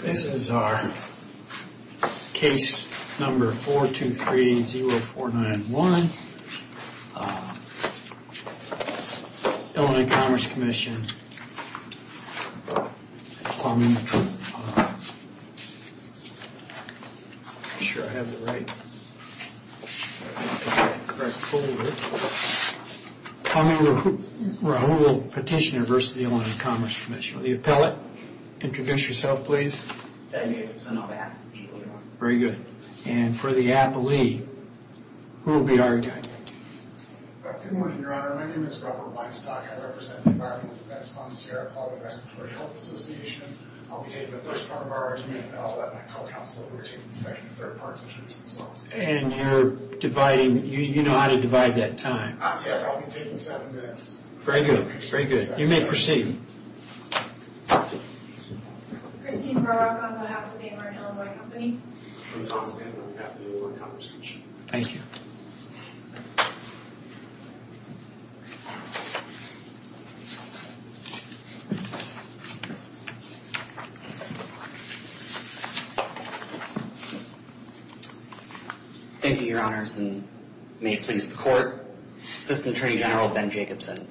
This is our case number 423-0491, Illinois Commerce Comm'n, if I'm sure I have it right in the correct folder. Comm'n Rahoul Petitioner v. Illinois Commerce Comm'n. The appellate, introduce yourself please. My name is Anup Appley. Very good. And for the appellee, who will be arguing? Good morning, your honor. My name is Robert Weinstock. I represent the Environmental Defense Concierge Club of the Respiratory Health Association. I'll be taking the first part of our argument, and I'll let my co-counsel, who will be taking the second and third parts, introduce themselves. And you're dividing, you know how to divide that time. Yes, I'll be taking seven minutes. Very good, very good. You may proceed. Christine Burrock on behalf of the American Illinois Company. Thank you. Thank you, your honors, and may it please the court. Assistant Attorney General Ben Jacobson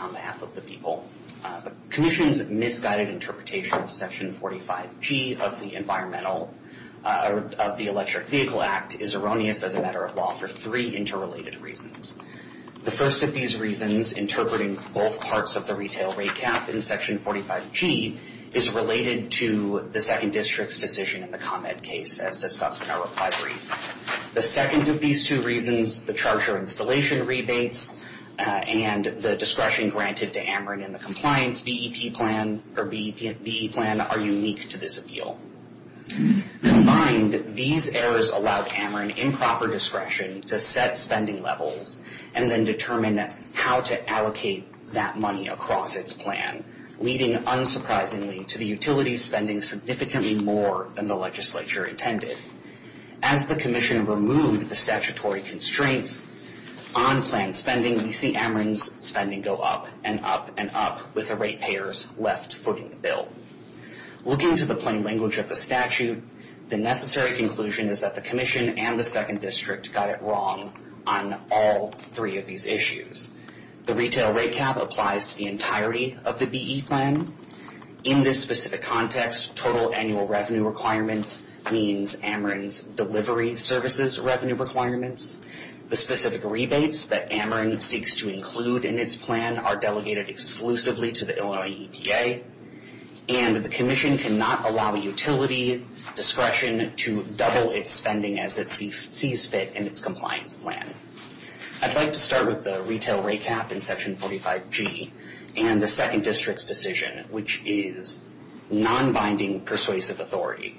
on behalf of the people. The commission's misguided interpretation of Section 45G of the Electric Vehicle Act is erroneous as a matter of law for three interrelated reasons. The first of these reasons, interpreting both parts of the retail rate cap in Section 45G, is related to the Second District's decision in the ComEd case, as discussed in our reply brief. The second of these two reasons, the charger installation rebates and the discretion granted to Ameren in the compliance BEP plan are unique to this appeal. Combined, these errors allowed Ameren improper discretion to set spending levels and then determine how to allocate that money across its plan, leading, unsurprisingly, to the utility spending significantly more than the legislature intended. As the commission removed the statutory constraints on plan spending, we see Ameren's spending go up and up and up with the rate payers left footing the bill. Looking to the plain language of the statute, the necessary conclusion is that the commission and the Second District got it wrong on all three of these issues. The retail rate cap applies to the entirety of the BE plan. In this specific context, total annual revenue requirements means Ameren's delivery services revenue requirements. The specific rebates that Ameren seeks to include in its plan are delegated exclusively to the Illinois EPA. And the commission cannot allow a utility discretion to double its spending as it sees fit in its compliance plan. I'd like to start with the retail rate cap in Section 45G and the Second District's decision, which is non-binding persuasive authority.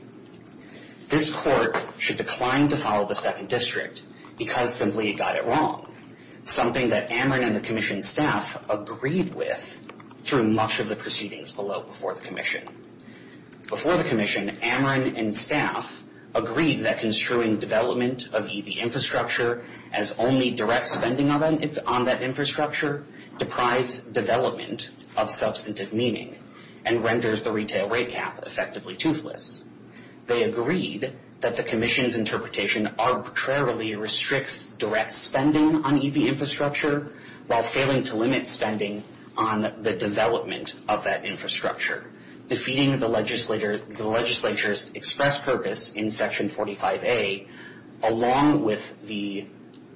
This court should decline to follow the Second District because simply it got it wrong, something that Ameren and the commission staff agreed with through much of the proceedings below before the commission. Before the commission, Ameren and staff agreed that construing development of EV infrastructure as only direct spending on that infrastructure deprives development of substantive meaning and renders the retail rate cap effectively toothless. They agreed that the commission's interpretation arbitrarily restricts direct spending on EV infrastructure while failing to limit spending on the development of that infrastructure, defeating the legislature's express purpose in Section 45A along with the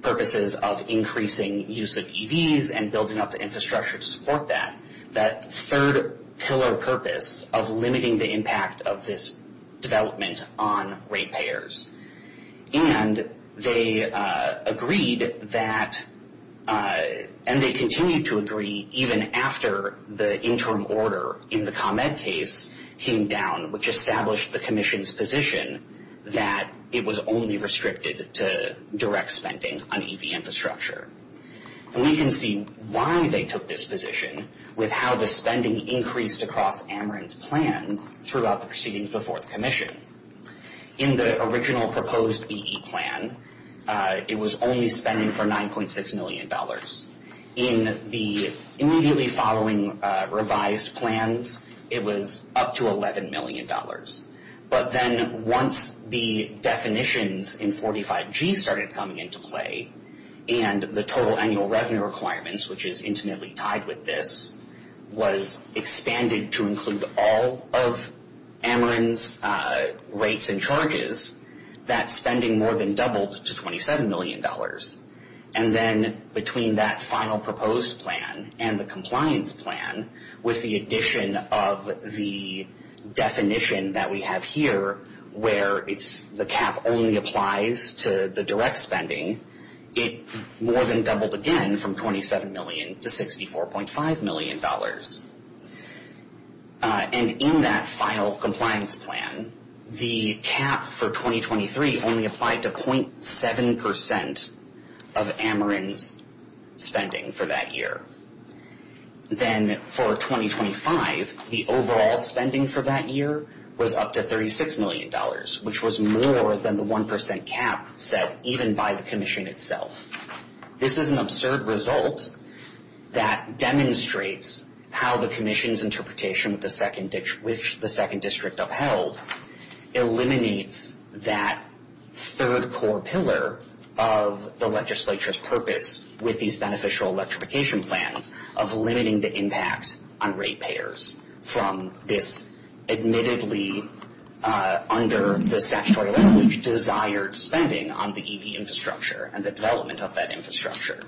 purposes of increasing use of EVs and building up the infrastructure to support that, that third pillar purpose of limiting the impact of this development on rate payers. And they agreed that, and they continued to agree even after the interim order in the ComEd case came down, which established the commission's position that it was only restricted to direct spending on EV infrastructure. And we can see why they took this position with how the spending increased across Ameren's plans throughout the proceedings before the commission. In the original proposed BE plan, it was only spending for $9.6 million. In the immediately following revised plans, it was up to $11 million. But then once the definitions in 45G started coming into play and the total annual revenue requirements, which is intimately tied with this, was expanded to include all of Ameren's rates and charges, that spending more than doubled to $27 million. And then between that final proposed plan and the compliance plan, with the addition of the definition that we have here where the cap only applies to the direct spending, it more than doubled again from $27 million to $64.5 million. And in that final compliance plan, the cap for 2023 only applied to 0.7 percent of Ameren's spending for that year. Then for 2025, the overall spending for that year was up to $36 million, which was more than the 1 percent cap set even by the commission itself. This is an absurd result that demonstrates how the commission's interpretation which the second district upheld eliminates that third core pillar of the legislature's purpose with these beneficial electrification plans of limiting the impact on rate payers from this admittedly, under the statutory language, desired spending on the EV infrastructure and the development of that infrastructure.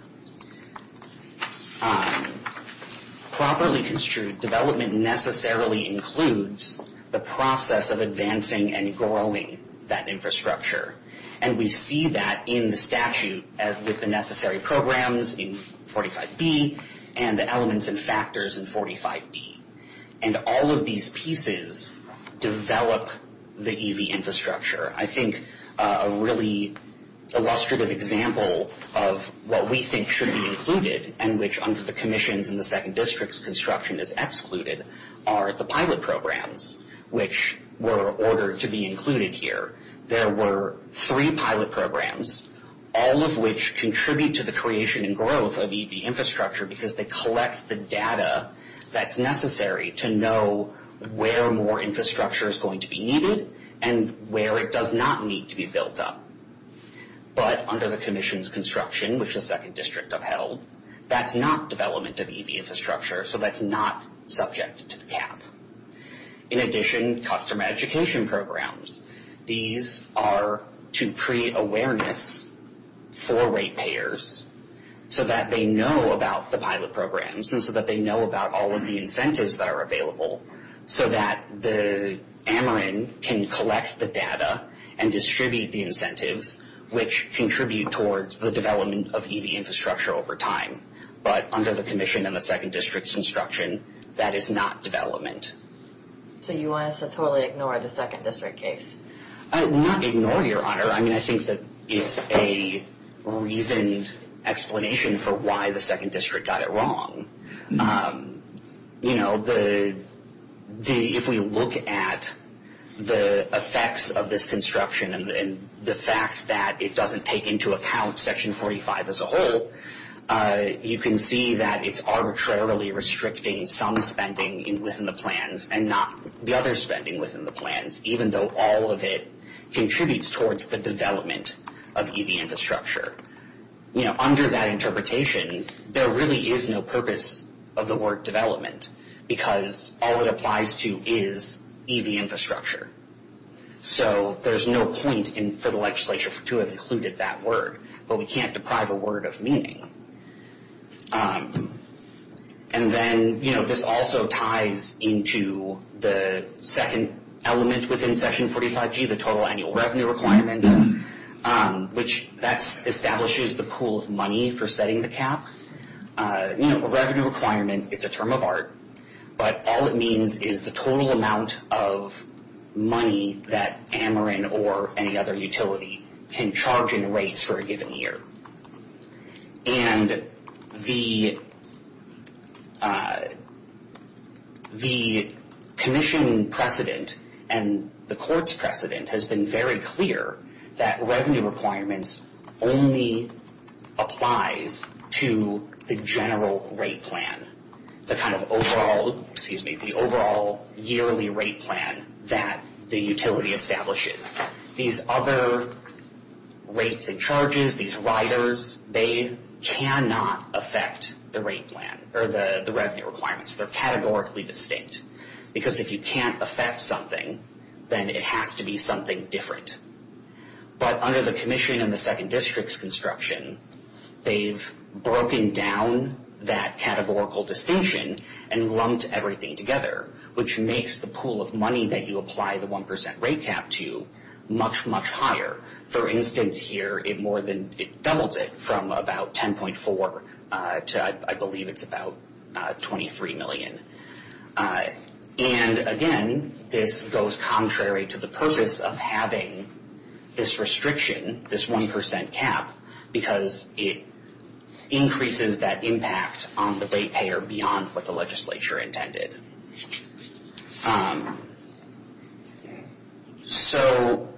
Properly construed development necessarily includes the process of advancing and growing that infrastructure. And we see that in the statute with the necessary programs in 45B and the elements and factors in 45D. And all of these pieces develop the EV infrastructure. I think a really illustrative example of what we think should be included and which under the commissions in the second district's construction is excluded are the pilot programs, which were ordered to be included here. There were three pilot programs, all of which contribute to the creation and growth of EV infrastructure because they collect the data that's necessary to know where more infrastructure is going to be needed and where it does not need to be built up. But under the commission's construction, which the second district upheld, that's not development of EV infrastructure, so that's not subject to the cap. In addition, customer education programs. These are to create awareness for rate payers so that they know about the pilot programs and so that they know about all of the incentives that are available so that the Ameren can collect the data and distribute the incentives, which contribute towards the development of EV infrastructure over time. But under the commission and the second district's construction, that is not development. So you want us to totally ignore the second district case? Not ignore, Your Honor. I mean, I think that it's a reasoned explanation for why the second district got it wrong. You know, if we look at the effects of this construction and the fact that it doesn't take into account Section 45 as a whole, you can see that it's arbitrarily restricting some spending within the plans and not the other spending within the plans, even though all of it contributes towards the development of EV infrastructure. You know, under that interpretation, there really is no purpose of the word development because all it applies to is EV infrastructure. So there's no point for the legislature to have included that word, but we can't deprive a word of meaning. And then, you know, this also ties into the second element within Section 45G, the total annual revenue requirements, which that establishes the pool of money for setting the cap. You know, a revenue requirement, it's a term of art, but all it means is the total amount of money that Ameren or any other utility can charge in rates for a given year. And the commission precedent and the court's precedent has been very clear that revenue requirements only applies to the general rate plan, the kind of overall yearly rate plan that the utility establishes. These other rates and charges, these riders, they cannot affect the rate plan or the revenue requirements. They're categorically distinct because if you can't affect something, then it has to be something different. But under the commission and the second district's construction, they've broken down that categorical distinction and lumped everything together, which makes the pool of money that you apply the 1% rate cap to much, much higher. For instance, here, it more than doubles it from about 10.4 to, I believe, it's about 23 million. And, again, this goes contrary to the purpose of having this restriction, this 1% cap, because it increases that impact on the rate payer beyond what the legislature intended. So,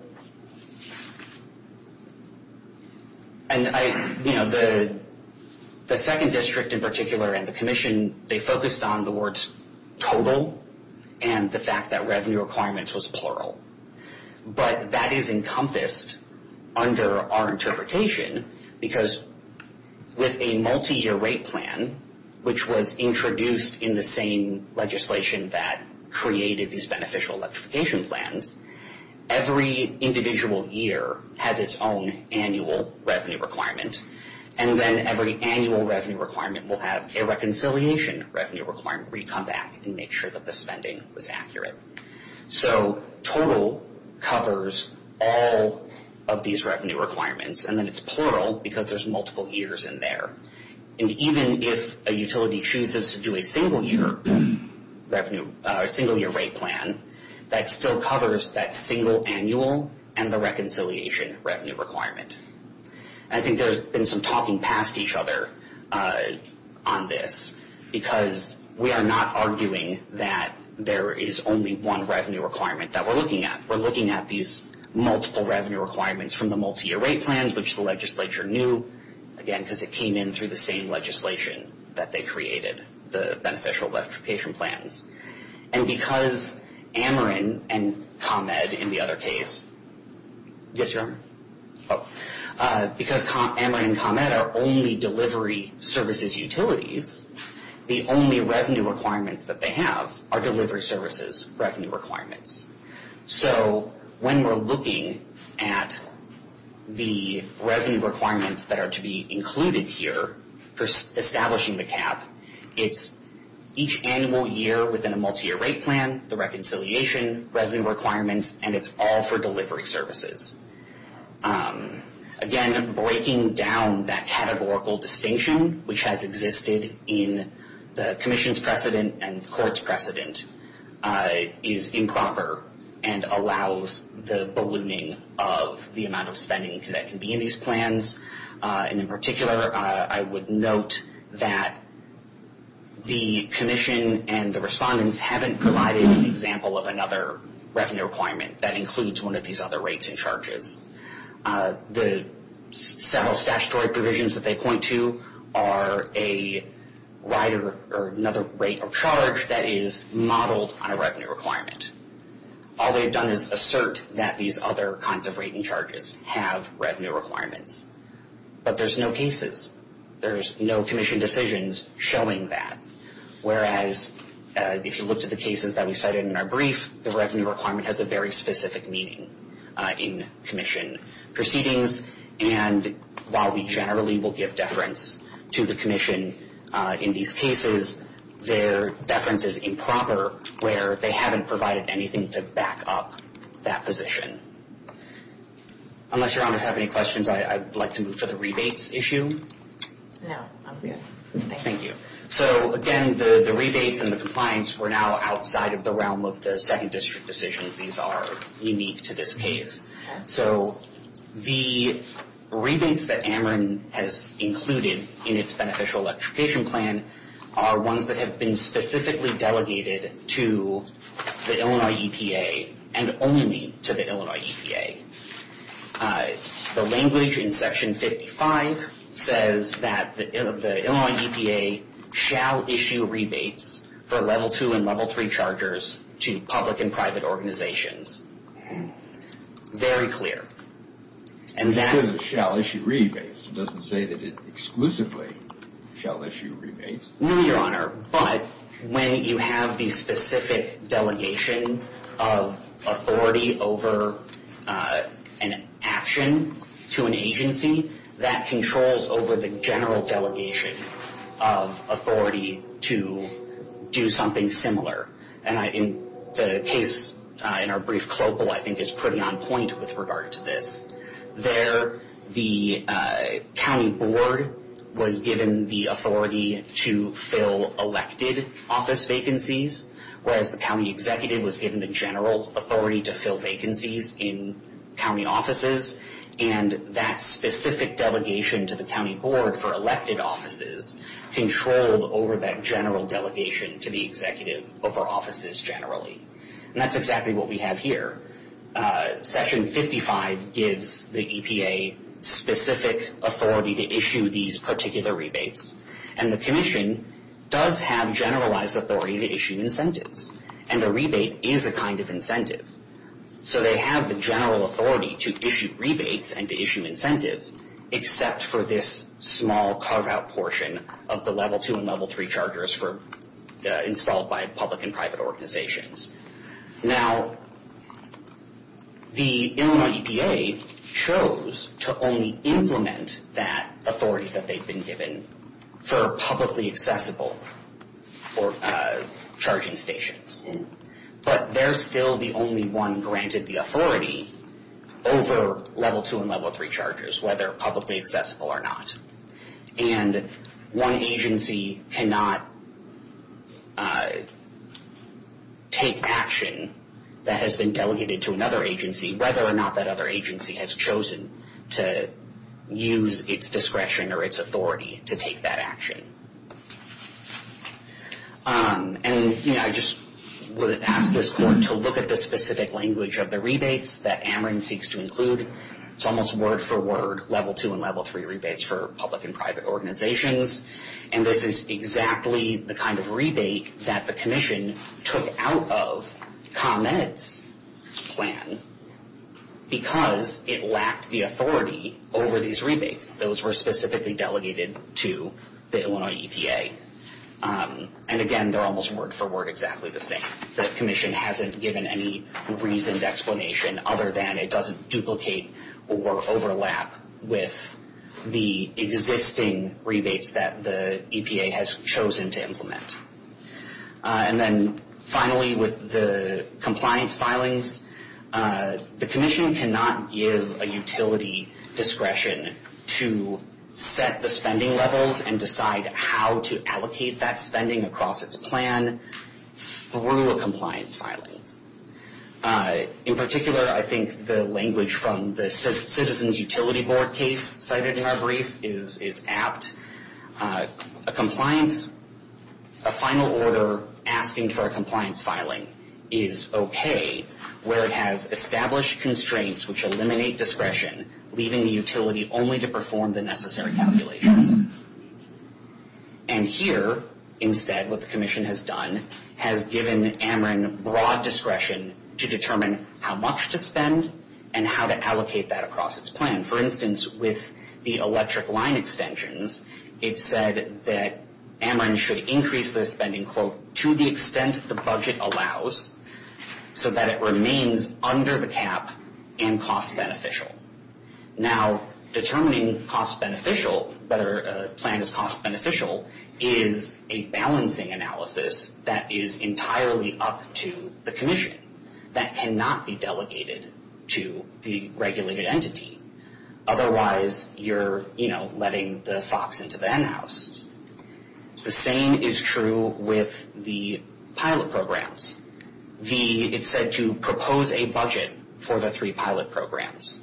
you know, the second district in particular and the commission, they focused on the words total and the fact that revenue requirements was plural. But that is encompassed under our interpretation because with a multi-year rate plan, which was introduced in the same legislation that created these beneficial electrification plans, every individual year has its own annual revenue requirement. And then every annual revenue requirement will have a reconciliation revenue requirement where you come back and make sure that the spending was accurate. So total covers all of these revenue requirements. And then it's plural because there's multiple years in there. And even if a utility chooses to do a single-year rate plan, that still covers that single annual and the reconciliation revenue requirement. I think there's been some talking past each other on this because we are not arguing that there is only one revenue requirement that we're looking at. We're looking at these multiple revenue requirements from the multi-year rate plans, which the legislature knew, again, because it came in through the same legislation that they created, the beneficial electrification plans. And because Ameren and ComEd in the other case, yes, you're on? Oh. Because Ameren and ComEd are only delivery services utilities, the only revenue requirements that they have are delivery services revenue requirements. So when we're looking at the revenue requirements that are to be included here for establishing the cap, it's each annual year within a multi-year rate plan, the reconciliation revenue requirements, and it's all for delivery services. Again, breaking down that categorical distinction, which has existed in the commission's precedent and the court's precedent, is improper and allows the ballooning of the amount of spending that can be in these plans. And in particular, I would note that the commission and the respondents haven't provided an example of another revenue requirement that includes one of these other rates and charges. The several statutory provisions that they point to are another rate or charge that is modeled on a revenue requirement. All they've done is assert that these other kinds of rate and charges have revenue requirements. But there's no cases. There's no commission decisions showing that. Whereas if you looked at the cases that we cited in our brief, the revenue requirement has a very specific meaning in commission proceedings. And while we generally will give deference to the commission in these cases, their deference is improper where they haven't provided anything to back up that position. Unless Your Honor has any questions, I'd like to move to the rebates issue. No, I'm good. Thank you. So again, the rebates and the compliance were now outside of the realm of the second district decisions. These are unique to this case. So the rebates that Ameren has included in its beneficial electrification plan are ones that have been specifically delegated to the Illinois EPA and only to the Illinois EPA. The language in Section 55 says that the Illinois EPA shall issue rebates for Level 2 and Level 3 chargers to public and private organizations. Very clear. It says it shall issue rebates. It doesn't say that it exclusively shall issue rebates. No, Your Honor. But when you have the specific delegation of authority over an action to an agency, that controls over the general delegation of authority to do something similar. And the case in our brief clopal, I think, is pretty on point with regard to this. There, the county board was given the authority to fill elected office vacancies, whereas the county executive was given the general authority to fill vacancies in county offices. And that specific delegation to the county board for elected offices controlled over that general delegation to the executive over offices generally. And that's exactly what we have here. Section 55 gives the EPA specific authority to issue these particular rebates. And the commission does have generalized authority to issue incentives. And a rebate is a kind of incentive. So they have the general authority to issue rebates and to issue incentives, except for this small carve-out portion of the Level 2 and Level 3 chargers installed by public and private organizations. Now, the Illinois EPA chose to only implement that authority that they've been given for publicly accessible charging stations. But they're still the only one granted the authority over Level 2 and Level 3 chargers, whether publicly accessible or not. And one agency cannot take action that has been delegated to another agency, whether or not that other agency has chosen to use its discretion or its authority to take that action. And I just would ask this court to look at the specific language of the rebates that Ameren seeks to include. It's almost word-for-word Level 2 and Level 3 rebates for public and private organizations. And this is exactly the kind of rebate that the commission took out of ComEd's plan because it lacked the authority over these rebates. Those were specifically delegated to the Illinois EPA. And again, they're almost word-for-word exactly the same. The commission hasn't given any reasoned explanation other than it doesn't duplicate or overlap with the existing rebates that the EPA has chosen to implement. And then finally, with the compliance filings, the commission cannot give a utility discretion to set the spending levels and decide how to allocate that spending across its plan through a compliance filing. In particular, I think the language from the Citizens Utility Board case cited in our brief is apt. A compliance, a final order asking for a compliance filing is okay, where it has established constraints which eliminate discretion, leaving the utility only to perform the necessary calculations. And here, instead, what the commission has done, has given Ameren broad discretion to determine how much to spend and how to allocate that across its plan. For instance, with the electric line extensions, it said that Ameren should increase the spending, quote, to the extent the budget allows so that it remains under the cap and cost-beneficial. Now, determining cost-beneficial, whether a plan is cost-beneficial, is a balancing analysis that is entirely up to the commission. That cannot be delegated to the regulated entity. Otherwise, you're, you know, letting the fox into the hen house. The same is true with the pilot programs. It's said to propose a budget for the three pilot programs.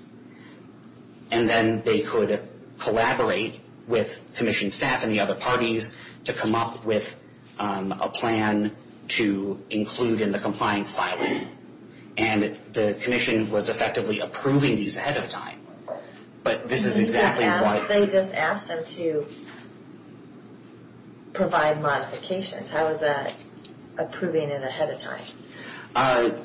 And then they could collaborate with commission staff and the other parties to come up with a plan to include in the compliance filing. And the commission was effectively approving these ahead of time. But this is exactly why. They just asked them to provide modifications. How is that approving it ahead of time?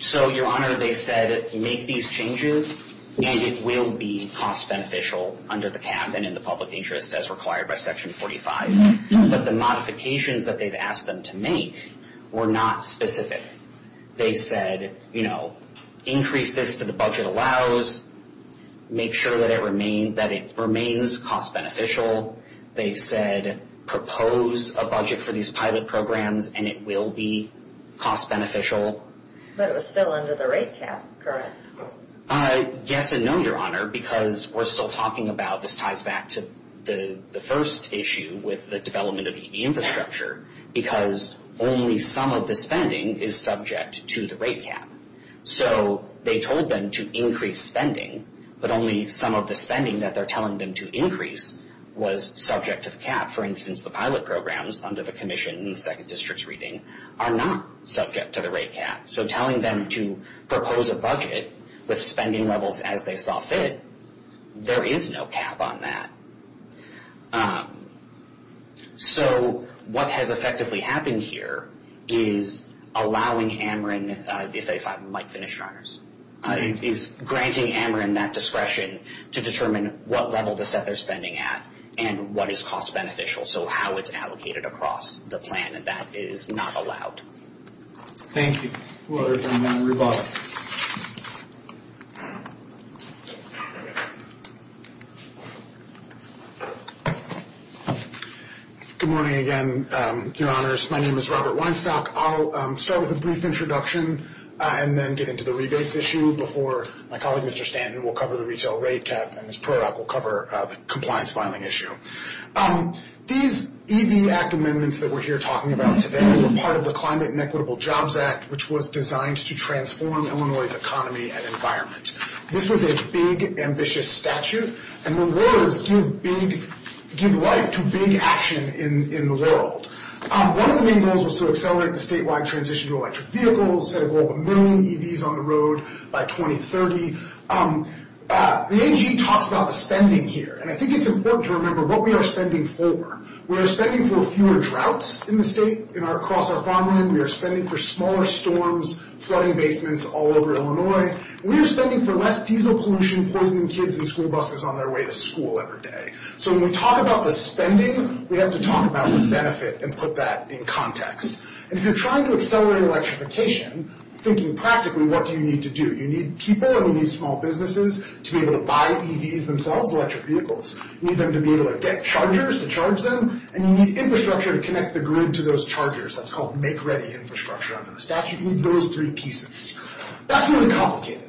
So, Your Honor, they said make these changes, and it will be cost-beneficial under the cap and in the public interest as required by Section 45. But the modifications that they've asked them to make were not specific. They said, you know, increase this to the budget allows, make sure that it remains cost-beneficial. They said propose a budget for these pilot programs, and it will be cost-beneficial. But it was still under the rate cap, correct? Yes and no, Your Honor, because we're still talking about this ties back to the first issue with the development of the infrastructure, because only some of the spending is subject to the rate cap. So they told them to increase spending, but only some of the spending that they're telling them to increase was subject to the cap. For instance, the pilot programs under the commission in the second district's reading are not subject to the rate cap. So telling them to propose a budget with spending levels as they saw fit, there is no cap on that. So what has effectively happened here is allowing Ameren, if I might finish, Your Honors, is granting Ameren that discretion to determine what level to set their spending at and what is cost-beneficial, so how it's allocated across the plan. And that is not allowed. Thank you. We'll turn it over to Robert. Good morning again, Your Honors. My name is Robert Weinstock. I'll start with a brief introduction and then get into the rebates issue before my colleague, Mr. Stanton, will cover the retail rate cap, and Ms. Prorok will cover the compliance filing issue. These EV Act amendments that we're here talking about today were part of the Climate and Equitable Jobs Act, which was designed to transform Illinois' economy and environment. This was a big, ambitious statute, and the words give life to big action in the world. One of the main goals was to accelerate the statewide transition to electric vehicles, set a goal of a million EVs on the road by 2030. The AG talks about the spending here, and I think it's important to remember what we are spending for. We are spending for fewer droughts in the state, across our farmland. We are spending for smaller storms, flooding basements all over Illinois. We are spending for less diesel pollution, poisoning kids and school buses on their way to school every day. So when we talk about the spending, we have to talk about the benefit and put that in context. And if you're trying to accelerate electrification, thinking practically, what do you need to do? You need people and you need small businesses to be able to buy EVs themselves, electric vehicles. You need them to be able to get chargers to charge them, and you need infrastructure to connect the grid to those chargers. That's called make-ready infrastructure under the statute. You need those three pieces. That's really complicated.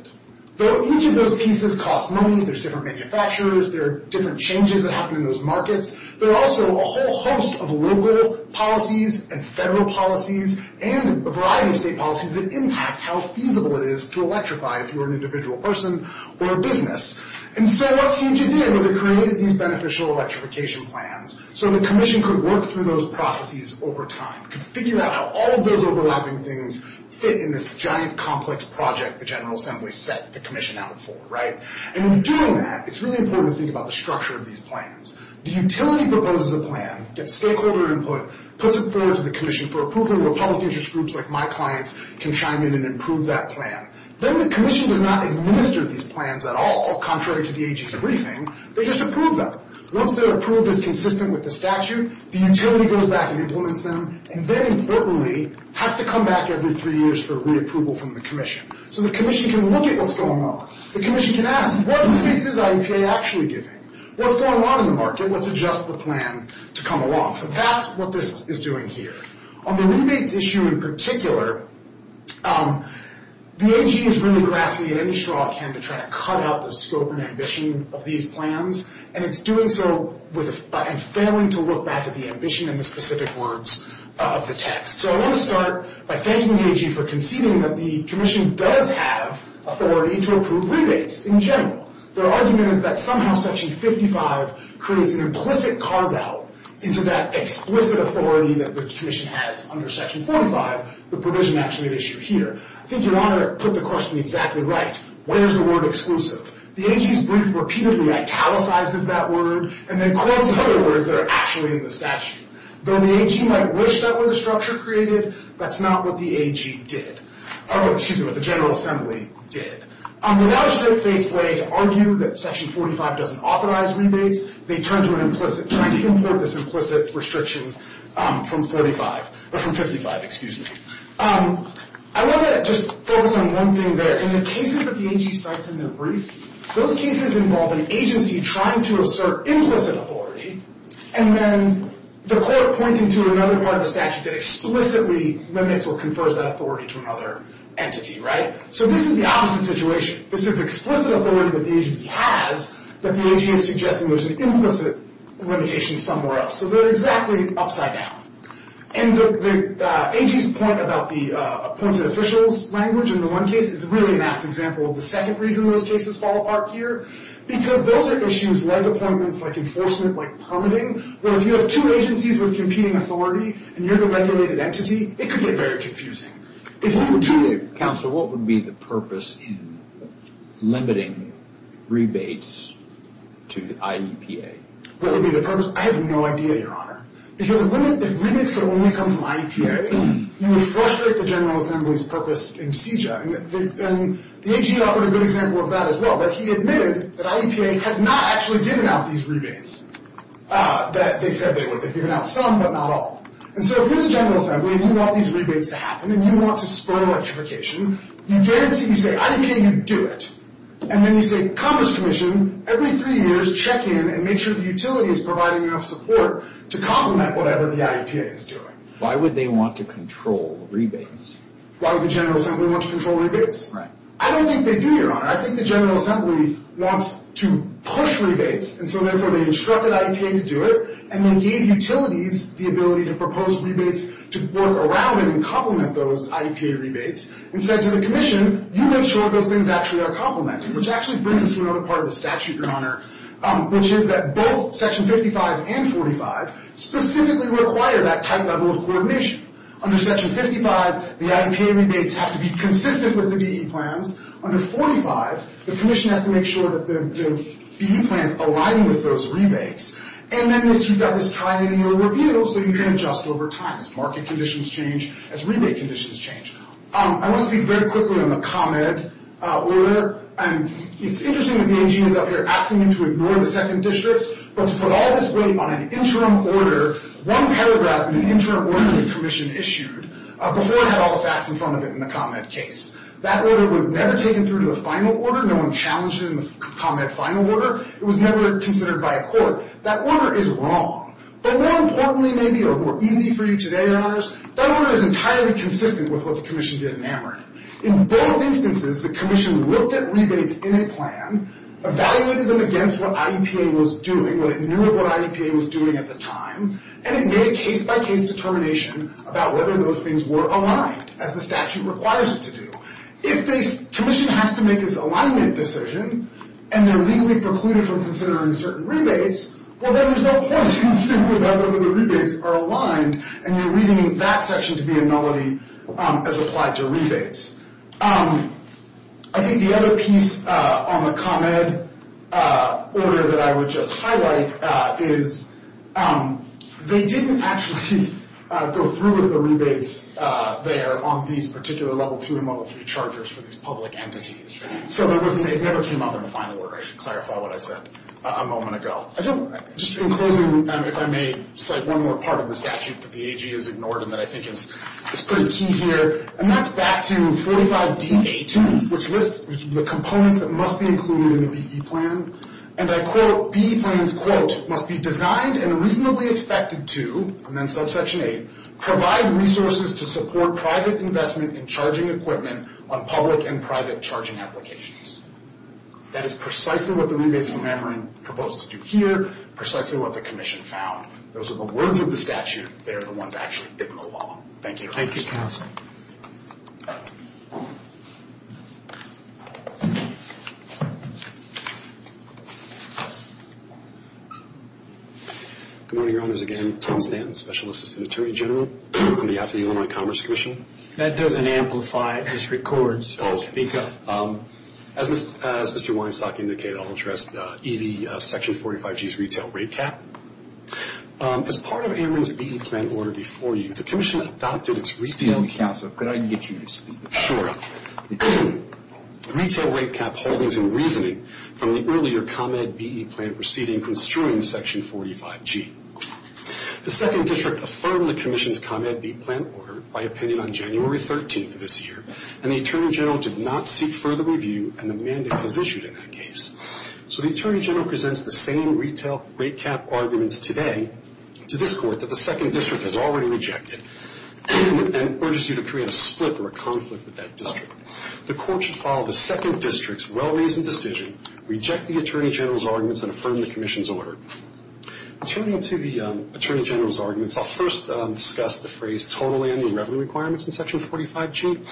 Each of those pieces costs money. There's different manufacturers. There are different changes that happen in those markets. There are also a whole host of local policies and federal policies and a variety of state policies that impact how feasible it is to electrify if you're an individual person or a business. And so what CIG did was it created these beneficial electrification plans so the commission could work through those processes over time, could figure out how all of those overlapping things fit in this giant, complex project the General Assembly set the commission out for. And in doing that, it's really important to think about the structure of these plans. The utility proposes a plan, gets stakeholder input, puts it forward to the commission for approval, and public interest groups like my clients can chime in and approve that plan. Then the commission does not administer these plans at all, contrary to the AG's briefing. They just approve them. Once they're approved as consistent with the statute, the utility goes back and implements them, and then, importantly, has to come back every three years for re-approval from the commission. So the commission can look at what's going on. The commission can ask, What piece is IEPA actually giving? What's going on in the market? Let's adjust the plan to come along. So that's what this is doing here. On the rebates issue in particular, the AG is really grasping at any straw it can to try to cut out the scope and ambition of these plans, and it's doing so and failing to look back at the ambition in the specific words of the text. So I want to start by thanking the AG for conceding that the commission does have authority to approve rebates in general. Their argument is that somehow Section 55 creates an implicit carve-out into that explicit authority that the commission has under Section 45, the provision actually at issue here. I think Your Honor put the question exactly right. Where is the word exclusive? The AG's brief repeatedly italicizes that word and then quotes other words that are actually in the statute. Though the AG might wish that were the structure created, that's not what the AG did. Oh, excuse me, what the General Assembly did. On the now straight-faced way to argue that Section 45 doesn't authorize rebates, they turn to an implicit, trying to import this implicit restriction from 45, or from 55, excuse me. I want to just focus on one thing there. In the cases that the AG cites in their brief, those cases involve an agency trying to assert implicit authority and then the court pointing to another part of the statute that explicitly limits or confers that authority to another entity, right? So this is the opposite situation. This is explicit authority that the agency has, but the AG is suggesting there's an implicit limitation somewhere else. So they're exactly upside down. And the AG's point about the appointed officials language in the one case is really an apt example of the second reason those cases fall apart here, because those are issues like appointments, like enforcement, like permitting, where if you have two agencies with competing authority and you're the regulated entity, it could get very confusing. Counsel, what would be the purpose in limiting rebates to IEPA? What would be the purpose? I have no idea, Your Honor. Because if rebates could only come from IEPA, you would frustrate the General Assembly's purpose in CEJA. And the AG offered a good example of that as well, but he admitted that IEPA has not actually given out these rebates that they said they would. They've given out some, but not all. And so if you're the General Assembly and you want these rebates to happen and you want to spur electrification, you guarantee, you say, IEPA, you do it. And then you say, Commerce Commission, every three years, check in and make sure the utility is providing enough support to complement whatever the IEPA is doing. Why would they want to control rebates? Why would the General Assembly want to control rebates? Right. I don't think they do, Your Honor. I think the General Assembly wants to push rebates, and so therefore they instructed IEPA to do it, and they gave utilities the ability to propose rebates to work around and complement those IEPA rebates, and said to the Commission, you make sure those things actually are complemented, which actually brings us to another part of the statute, Your Honor, which is that both Section 55 and 45 specifically require that type level of coordination. Under Section 55, the IEPA rebates have to be consistent with the DE plans. Under 45, the Commission has to make sure that the DE plans align with those rebates. And then you've got this time in your review, so you can adjust over time as market conditions change, as rebate conditions change. I want to speak very quickly on the ComEd order. It's interesting that the AG is up here asking you to ignore the 2nd District, but to put all this weight on an interim order, one paragraph in an interim order the Commission issued, before it had all the facts in front of it in the ComEd case. That order was never taken through to the final order. No one challenged it in the ComEd final order. It was never considered by a court. That order is wrong. But more importantly, maybe, or more easy for you today, Your Honors, that order is entirely consistent with what the Commission did in AmeriCorps. In both instances, the Commission looked at rebates in a plan, evaluated them against what IEPA was doing, what it knew what IEPA was doing at the time, and it made a case-by-case determination about whether those things were aligned, as the statute requires it to do. If the Commission has to make this alignment decision and they're legally precluded from considering certain rebates, well, then there's no point in saying whether the rebates are aligned and you're reading that section to be a nullity as applied to rebates. I think the other piece on the ComEd order that I would just highlight is they didn't actually go through with the rebates there on these particular Level 2 and Level 3 chargers for these public entities. So it never came up in the final order. I should clarify what I said a moment ago. Just in closing, if I may cite one more part of the statute that the AG has ignored and that I think is pretty key here, and that's back to 45dA2, which lists the components that must be included in the BE Plan. And I quote, BE Plan's, quote, must be designed and reasonably expected to, and then subsection 8, provide resources to support private investment in charging equipment on public and private charging applications. That is precisely what the rebates were never proposed to do here, precisely what the Commission found. Those are the words of the statute. They're the ones actually hitting the wall. Thank you. Thank you, Counsel. Good morning, Your Honors. Again, Tom Stanton, Special Assistant Attorney General on behalf of the Illinois Commerce Commission. That doesn't amplify this record, so I'll speak up. As Mr. Weinstock indicated, I'll address the section 45g's retail rate cap. As part of Ameren's BE Plan order before you, the Commission adopted its retail rate cap. So could I get you to speak? Sure. Retail rate cap holdings and reasoning from the earlier ComEd BE Plan proceeding construing section 45g. The Second District affirmed the Commission's ComEd BE Plan order by opinion on January 13th of this year, and the Attorney General did not seek further review, and the mandate was issued in that case. So the Attorney General presents the same retail rate cap arguments today to this court that the Second District has already rejected and urges you to create a split or a conflict with that district. The court should follow the Second District's well-reasoned decision, reject the Attorney General's arguments, and affirm the Commission's order. Turning to the Attorney General's arguments, I'll first discuss the phrase total annual revenue requirements in section 45g.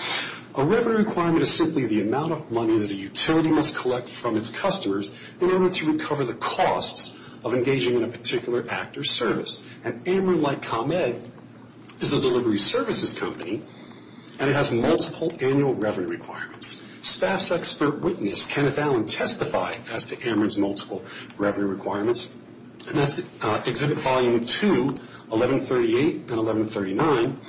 A revenue requirement is simply the amount of money that a utility must collect from its customers in order to recover the costs of engaging in a particular act or service, and Ameren, like ComEd, is a delivery services company, and it has multiple annual revenue requirements. Staff's expert witness, Kenneth Allen, testified as to Ameren's multiple revenue requirements, and that's Exhibit Volume 2, 1138 and 1139,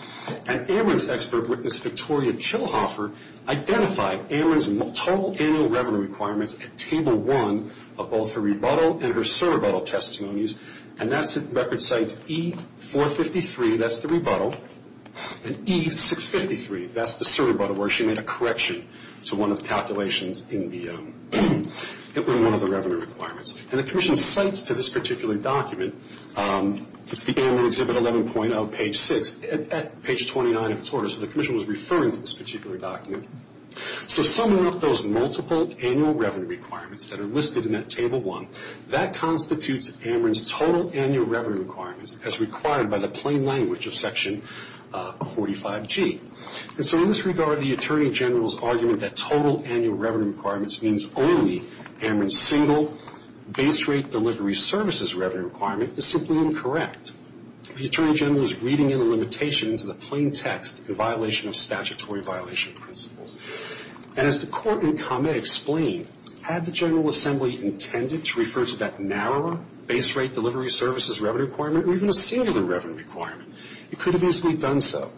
and Ameren's expert witness, Victoria Kilhoffer, identified Ameren's total annual revenue requirements at Table 1 of both her rebuttal and her surrebuttal testimonies, and that record cites E453, that's the rebuttal, and E653, that's the surrebuttal where she made a correction to one of the calculations in the revenue requirements. And the commission cites to this particular document, it's the Ameren Exhibit 11.0, page 6, at page 29 of its order, so the commission was referring to this particular document. So summing up those multiple annual revenue requirements that are listed in that Table 1, that constitutes Ameren's total annual revenue requirements as required by the plain language of section 45g. And so in this regard, the Attorney General's argument that total annual revenue requirements means only Ameren's single base rate delivery services revenue requirement is simply incorrect. The Attorney General is reading in the limitation to the plain text, a violation of statutory violation principles. And as the court in Comet explained, had the General Assembly intended to refer to that narrower base rate delivery services revenue requirement or even a singular revenue requirement, it could have easily done so.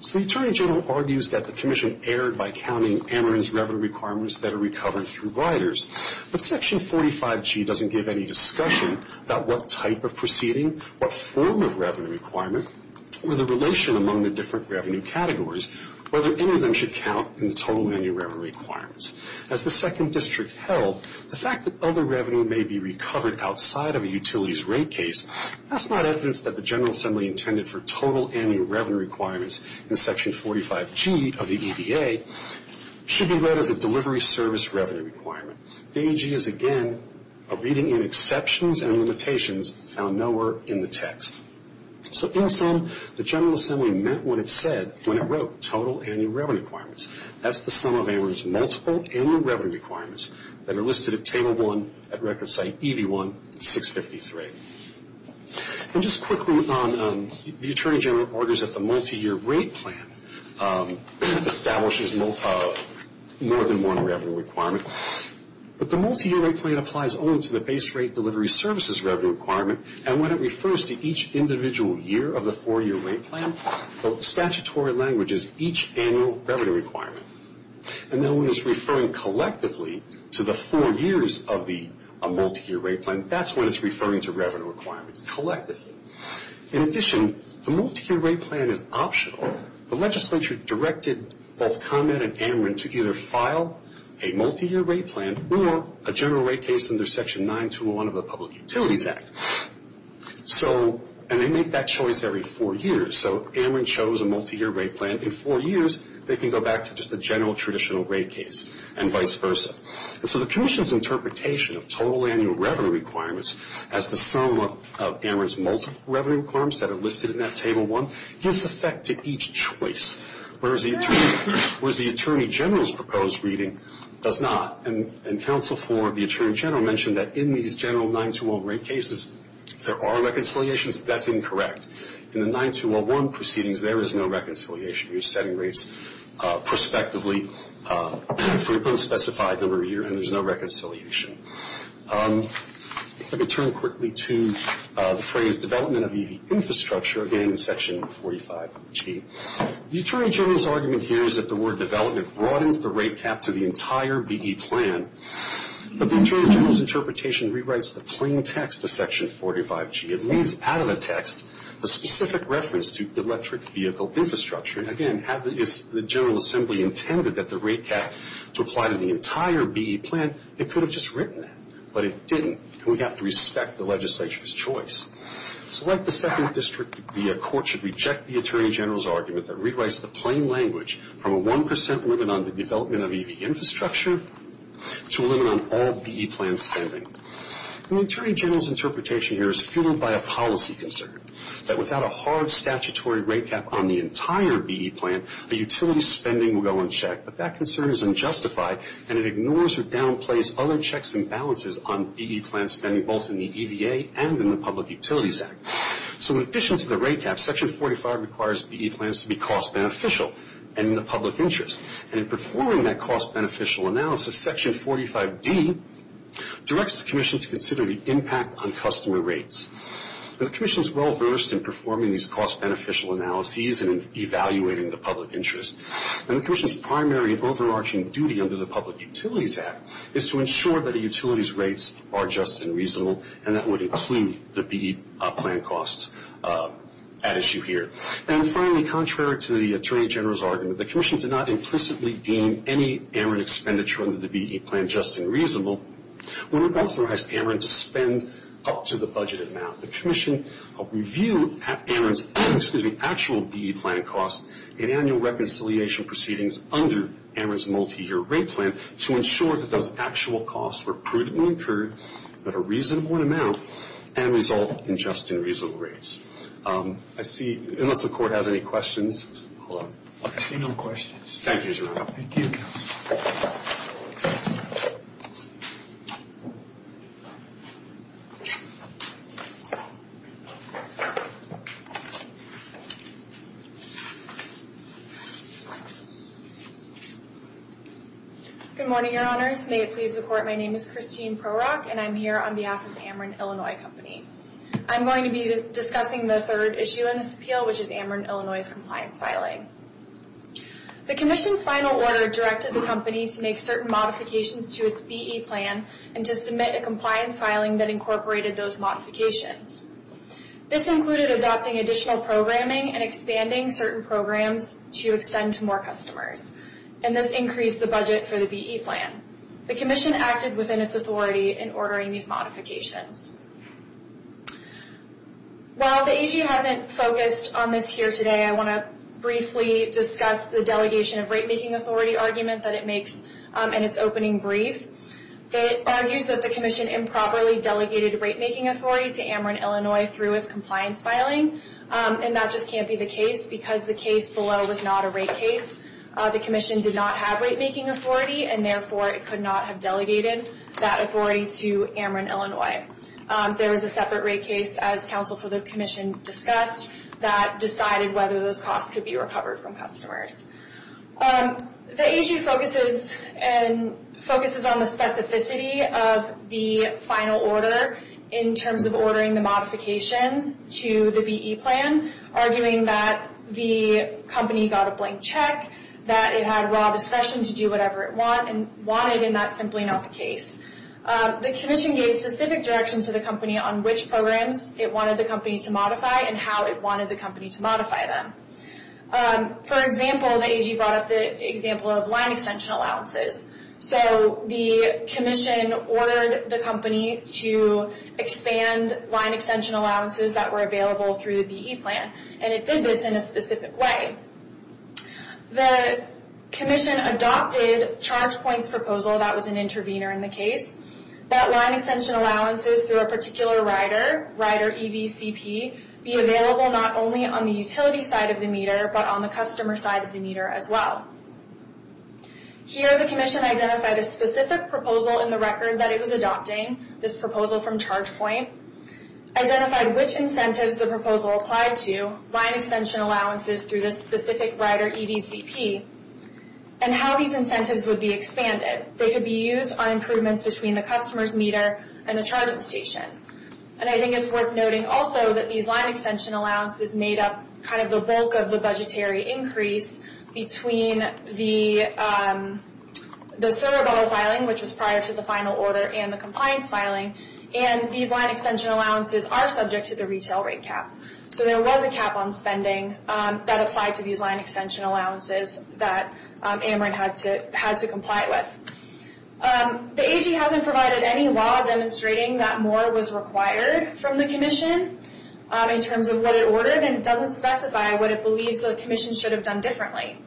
So the Attorney General argues that the commission erred by counting Ameren's revenue requirements that are recovered through riders. But section 45g doesn't give any discussion about what type of proceeding, what form of revenue requirement, or the relation among the different revenue categories, whether any of them should count in the total annual revenue requirements. As the Second District held, the fact that other revenue may be recovered outside of a utilities rate case, that's not evidence that the General Assembly intended for total annual revenue requirements in section 45g of the EVA, should be read as a delivery service revenue requirement. The AG is, again, reading in exceptions and limitations found nowhere in the text. So in sum, the General Assembly meant what it said when it wrote total annual revenue requirements. That's the sum of Ameren's multiple annual revenue requirements that are listed at table 1 at record site EV1-653. And just quickly, the Attorney General argues that the multi-year rate plan establishes more than one revenue requirement. But the multi-year rate plan applies only to the base rate delivery services revenue requirement, and when it refers to each individual year of the four-year rate plan, the statutory language is each annual revenue requirement. And then when it's referring collectively to the four years of the multi-year rate plan, that's when it's referring to revenue requirements collectively. In addition, the multi-year rate plan is optional. The legislature directed both ComEd and Ameren to either file a multi-year rate plan or a general rate case under section 9201 of the Public Utilities Act. And they make that choice every four years. So Ameren chose a multi-year rate plan. In four years, they can go back to just the general traditional rate case and vice versa. And so the Commission's interpretation of total annual revenue requirements as the sum of Ameren's multiple revenue requirements that are listed in that table 1 gives effect to each choice, whereas the Attorney General's proposed reading does not. And counsel for the Attorney General mentioned that in these general 9201 rate cases, there are reconciliations. That's incorrect. In the 9201 proceedings, there is no reconciliation. You're setting rates prospectively. They've been specified over a year, and there's no reconciliation. I'm going to turn quickly to the phrase development of the infrastructure, again, in section 45G. The Attorney General's argument here is that the word development broadens the rate cap to the entire BE plan. But the Attorney General's interpretation rewrites the plain text of section 45G. It leaves out of the text the specific reference to electric vehicle infrastructure. And again, had the General Assembly intended that the rate cap to apply to the entire BE plan, it could have just written that. But it didn't, and we have to respect the legislature's choice. So like the second district, the court should reject the Attorney General's argument that rewrites the plain language from a 1% limit on the development of EV infrastructure to a limit on all BE plan spending. And the Attorney General's interpretation here is fueled by a policy concern, that without a hard statutory rate cap on the entire BE plan, the utility spending will go unchecked. But that concern is unjustified, and it ignores or downplays other checks and balances on BE plan spending, both in the EVA and in the Public Utilities Act. So in addition to the rate cap, section 45 requires BE plans to be cost beneficial and in the public interest. And in performing that cost beneficial analysis, section 45D directs the Commission to consider the impact on customer rates. The Commission is well versed in performing these cost beneficial analyses and evaluating the public interest. And the Commission's primary overarching duty under the Public Utilities Act is to ensure that a utility's rates are just and reasonable, and that would include the BE plan costs at issue here. And finally, contrary to the Attorney General's argument, the Commission did not implicitly deem any Ameren expenditure under the BE plan just and reasonable, when it authorized Ameren to spend up to the budgeted amount. The Commission reviewed Ameren's actual BE plan costs in annual reconciliation proceedings under Ameren's multi-year rate plan to ensure that those actual costs were prudently incurred at a reasonable amount and result in just and reasonable rates. I see, unless the Court has any questions. Hold on. I see no questions. Thank you, Jerome. Thank you, Counsel. Good morning, Your Honors. May it please the Court, my name is Christine Prorock, and I'm here on behalf of Ameren Illinois Company. I'm going to be discussing the third issue in this appeal, which is Ameren Illinois' compliance filing. The Commission's final order directed the company to make certain modifications to its BE plan and to submit a compliance filing that incorporated those modifications. This included adopting additional programming and expanding certain programs to extend to more customers, and this increased the budget for the BE plan. The Commission acted within its authority in ordering these modifications. While the AG hasn't focused on this here today, I want to briefly discuss the delegation of rate-making authority argument that it makes in its opening brief. It argues that the Commission improperly delegated rate-making authority to Ameren Illinois through its compliance filing, and that just can't be the case because the case below was not a rate case. The Commission did not have rate-making authority, and therefore it could not have delegated that authority to Ameren Illinois. There was a separate rate case, as Counsel for the Commission discussed, that decided whether those costs could be recovered from customers. The AG focuses on the specificity of the final order in terms of ordering the modifications to the BE plan, arguing that the company got a blank check, that it had raw discretion to do whatever it wanted, and that's simply not the case. The Commission gave specific directions to the company on which programs it wanted the company to modify and how it wanted the company to modify them. For example, the AG brought up the example of line extension allowances. So the Commission ordered the company to expand line extension allowances that were available through the BE plan, and it did this in a specific way. The Commission adopted ChargePoint's proposal, that was an intervener in the case, that line extension allowances through a particular rider, rider EVCP, be available not only on the utility side of the meter, but on the customer side of the meter as well. Here, the Commission identified a specific proposal in the record that it was adopting, this proposal from ChargePoint, identified which incentives the proposal applied to, line extension allowances through this specific rider EVCP, and how these incentives would be expanded. They could be used on improvements between the customer's meter and the charging station. And I think it's worth noting also that these line extension allowances made up kind of the bulk of the budgetary increase between the CERBO filing, which was prior to the final order, and the compliance filing, and these line extension allowances are subject to the retail rate cap. So there was a cap on spending that applied to these line extension allowances that Ameren had to comply with. The AG hasn't provided any law demonstrating that more was required from the Commission in terms of what it ordered, and it doesn't specify what it believes the Commission should have done differently.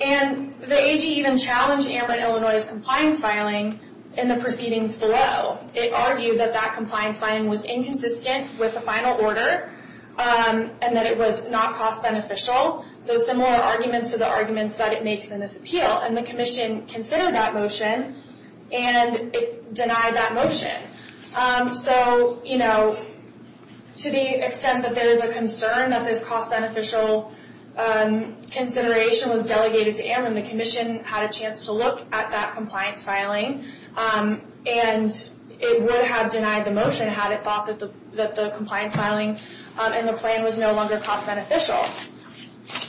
And the AG even challenged Ameren Illinois' compliance filing in the proceedings below. It argued that that compliance filing was inconsistent with the final order, and that it was not cost-beneficial. So similar arguments to the arguments that it makes in this appeal. And the Commission considered that motion, and it denied that motion. So, you know, to the extent that there is a concern that this cost-beneficial consideration was delegated to Ameren, the Commission had a chance to look at that compliance filing, and it would have denied the motion had it thought that the compliance filing in the plan was no longer cost-beneficial.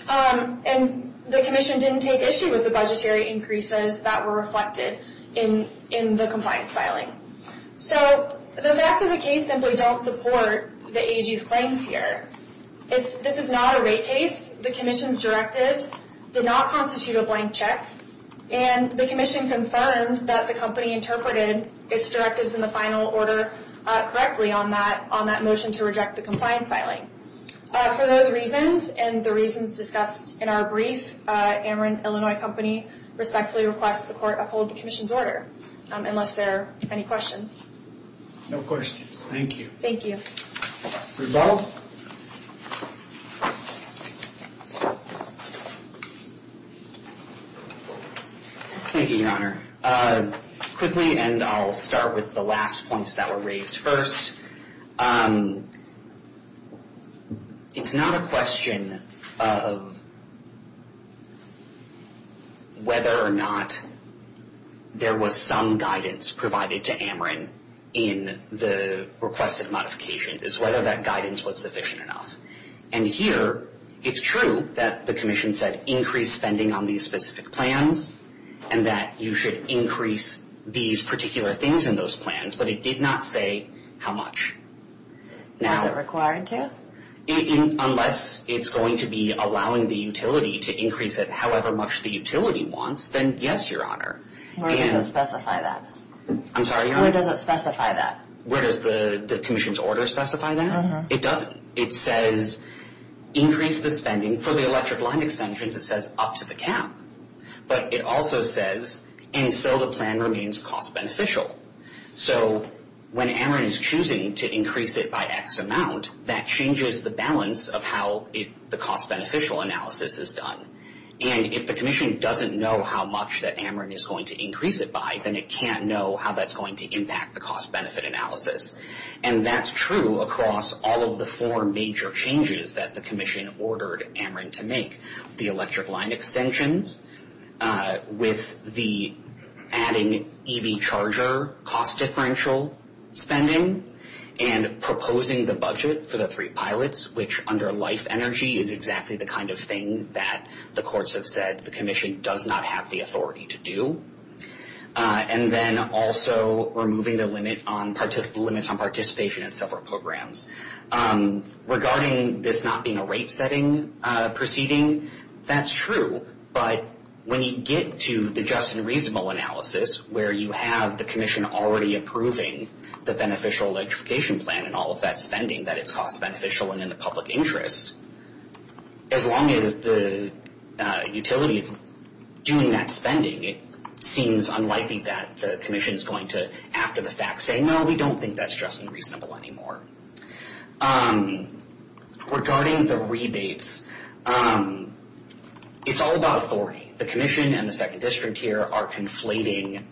And the Commission didn't take issue with the budgetary increases that were reflected in the compliance filing. So the facts of the case simply don't support the AG's claims here. This is not a rate case. The Commission's directives did not constitute a blank check, and the Commission confirmed that the company interpreted its directives in the final order correctly on that motion to reject the compliance filing. For those reasons, and the reasons discussed in our brief, Ameren Illinois Company respectfully requests the Court uphold the Commission's order, unless there are any questions. No questions. Thank you. Thank you. Rebald? Thank you, Your Honor. Quickly, and I'll start with the last points that were raised first. It's not a question of whether or not there was some guidance provided to Ameren in the requested modifications. It's whether that guidance was sufficient enough. And here, it's true that the Commission said increase spending on these specific plans, and that you should increase these particular things in those plans, but it did not say how much. Was it required to? Unless it's going to be allowing the utility to increase it however much the utility wants, then yes, Your Honor. Where does it specify that? I'm sorry, Your Honor? Where does it specify that? Where does the Commission's order specify that? It doesn't. It says increase the spending for the electric line extensions, it says up to the cap. But it also says, and so the plan remains cost-beneficial. So when Ameren is choosing to increase it by X amount, that changes the balance of how the cost-beneficial analysis is done. And if the Commission doesn't know how much that Ameren is going to increase it by, then it can't know how that's going to impact the cost-benefit analysis. And that's true across all of the four major changes that the Commission ordered Ameren to make. The electric line extensions, with the adding EV charger cost-differential spending, and proposing the budget for the three pilots, which under life energy is exactly the kind of thing that the courts have said the Commission does not have the authority to do. And then also removing the limits on participation in several programs. Regarding this not being a rate-setting proceeding, that's true. But when you get to the just and reasonable analysis, where you have the Commission already approving the beneficial electrification plan and all of that spending, that it's cost-beneficial and in the public interest, as long as the utility is doing that spending, it seems unlikely that the Commission is going to, after the fact, say, no, we don't think that's just and reasonable anymore. Regarding the rebates, it's all about authority. The Commission and the Second District here are conflating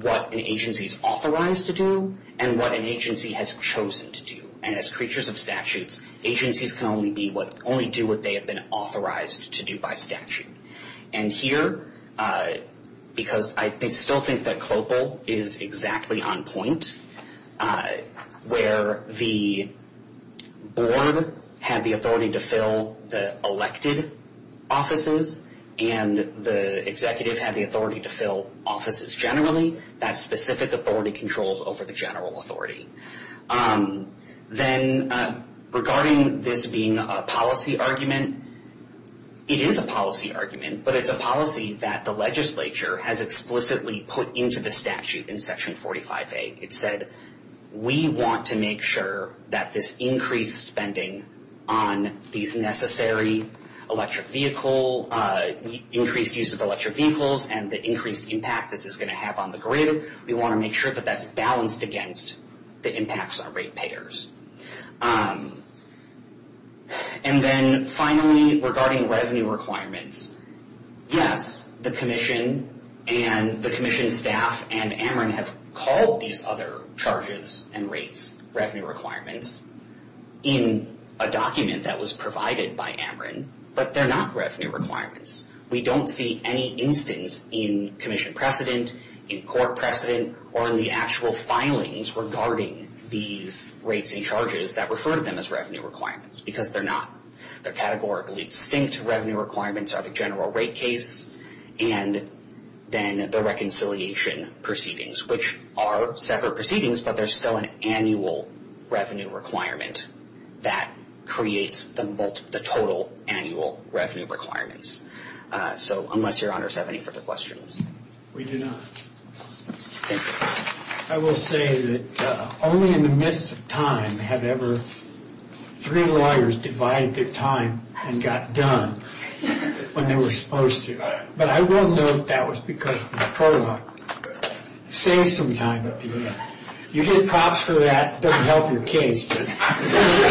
what an agency is authorized to do and what an agency has chosen to do. And as creatures of statutes, agencies can only do what they have been authorized to do by statute. And here, because I still think that CLOPL is exactly on point, where the board had the authority to fill the elected offices and the executive had the authority to fill offices generally, that specific authority controls over the general authority. Then regarding this being a policy argument, it is a policy argument, but it's a policy that the legislature has explicitly put into the statute in Section 45A. It said, we want to make sure that this increased spending on these necessary electric vehicle, increased use of electric vehicles and the increased impact this is going to have on the grid, we want to make sure that that's balanced against the impacts on rate payers. And then finally, regarding revenue requirements, yes, the Commission and the Commission staff and AMRIN have called these other charges and rates revenue requirements in a document that was provided by AMRIN, but they're not revenue requirements. We don't see any instance in Commission precedent, in court precedent, or in the actual filings regarding these rates and charges that refer to them as revenue requirements, because they're not. The categorically distinct revenue requirements are the general rate case and then the reconciliation proceedings, which are separate proceedings, but there's still an annual revenue requirement that creates the total annual revenue requirements. So unless your honors have any further questions. We do not. Thank you. I will say that only in the midst of time have ever three lawyers divided their time and got done when they were supposed to. But I will note that was because of the prologue. Save some time at the end. You get props for that, it doesn't help your case, but...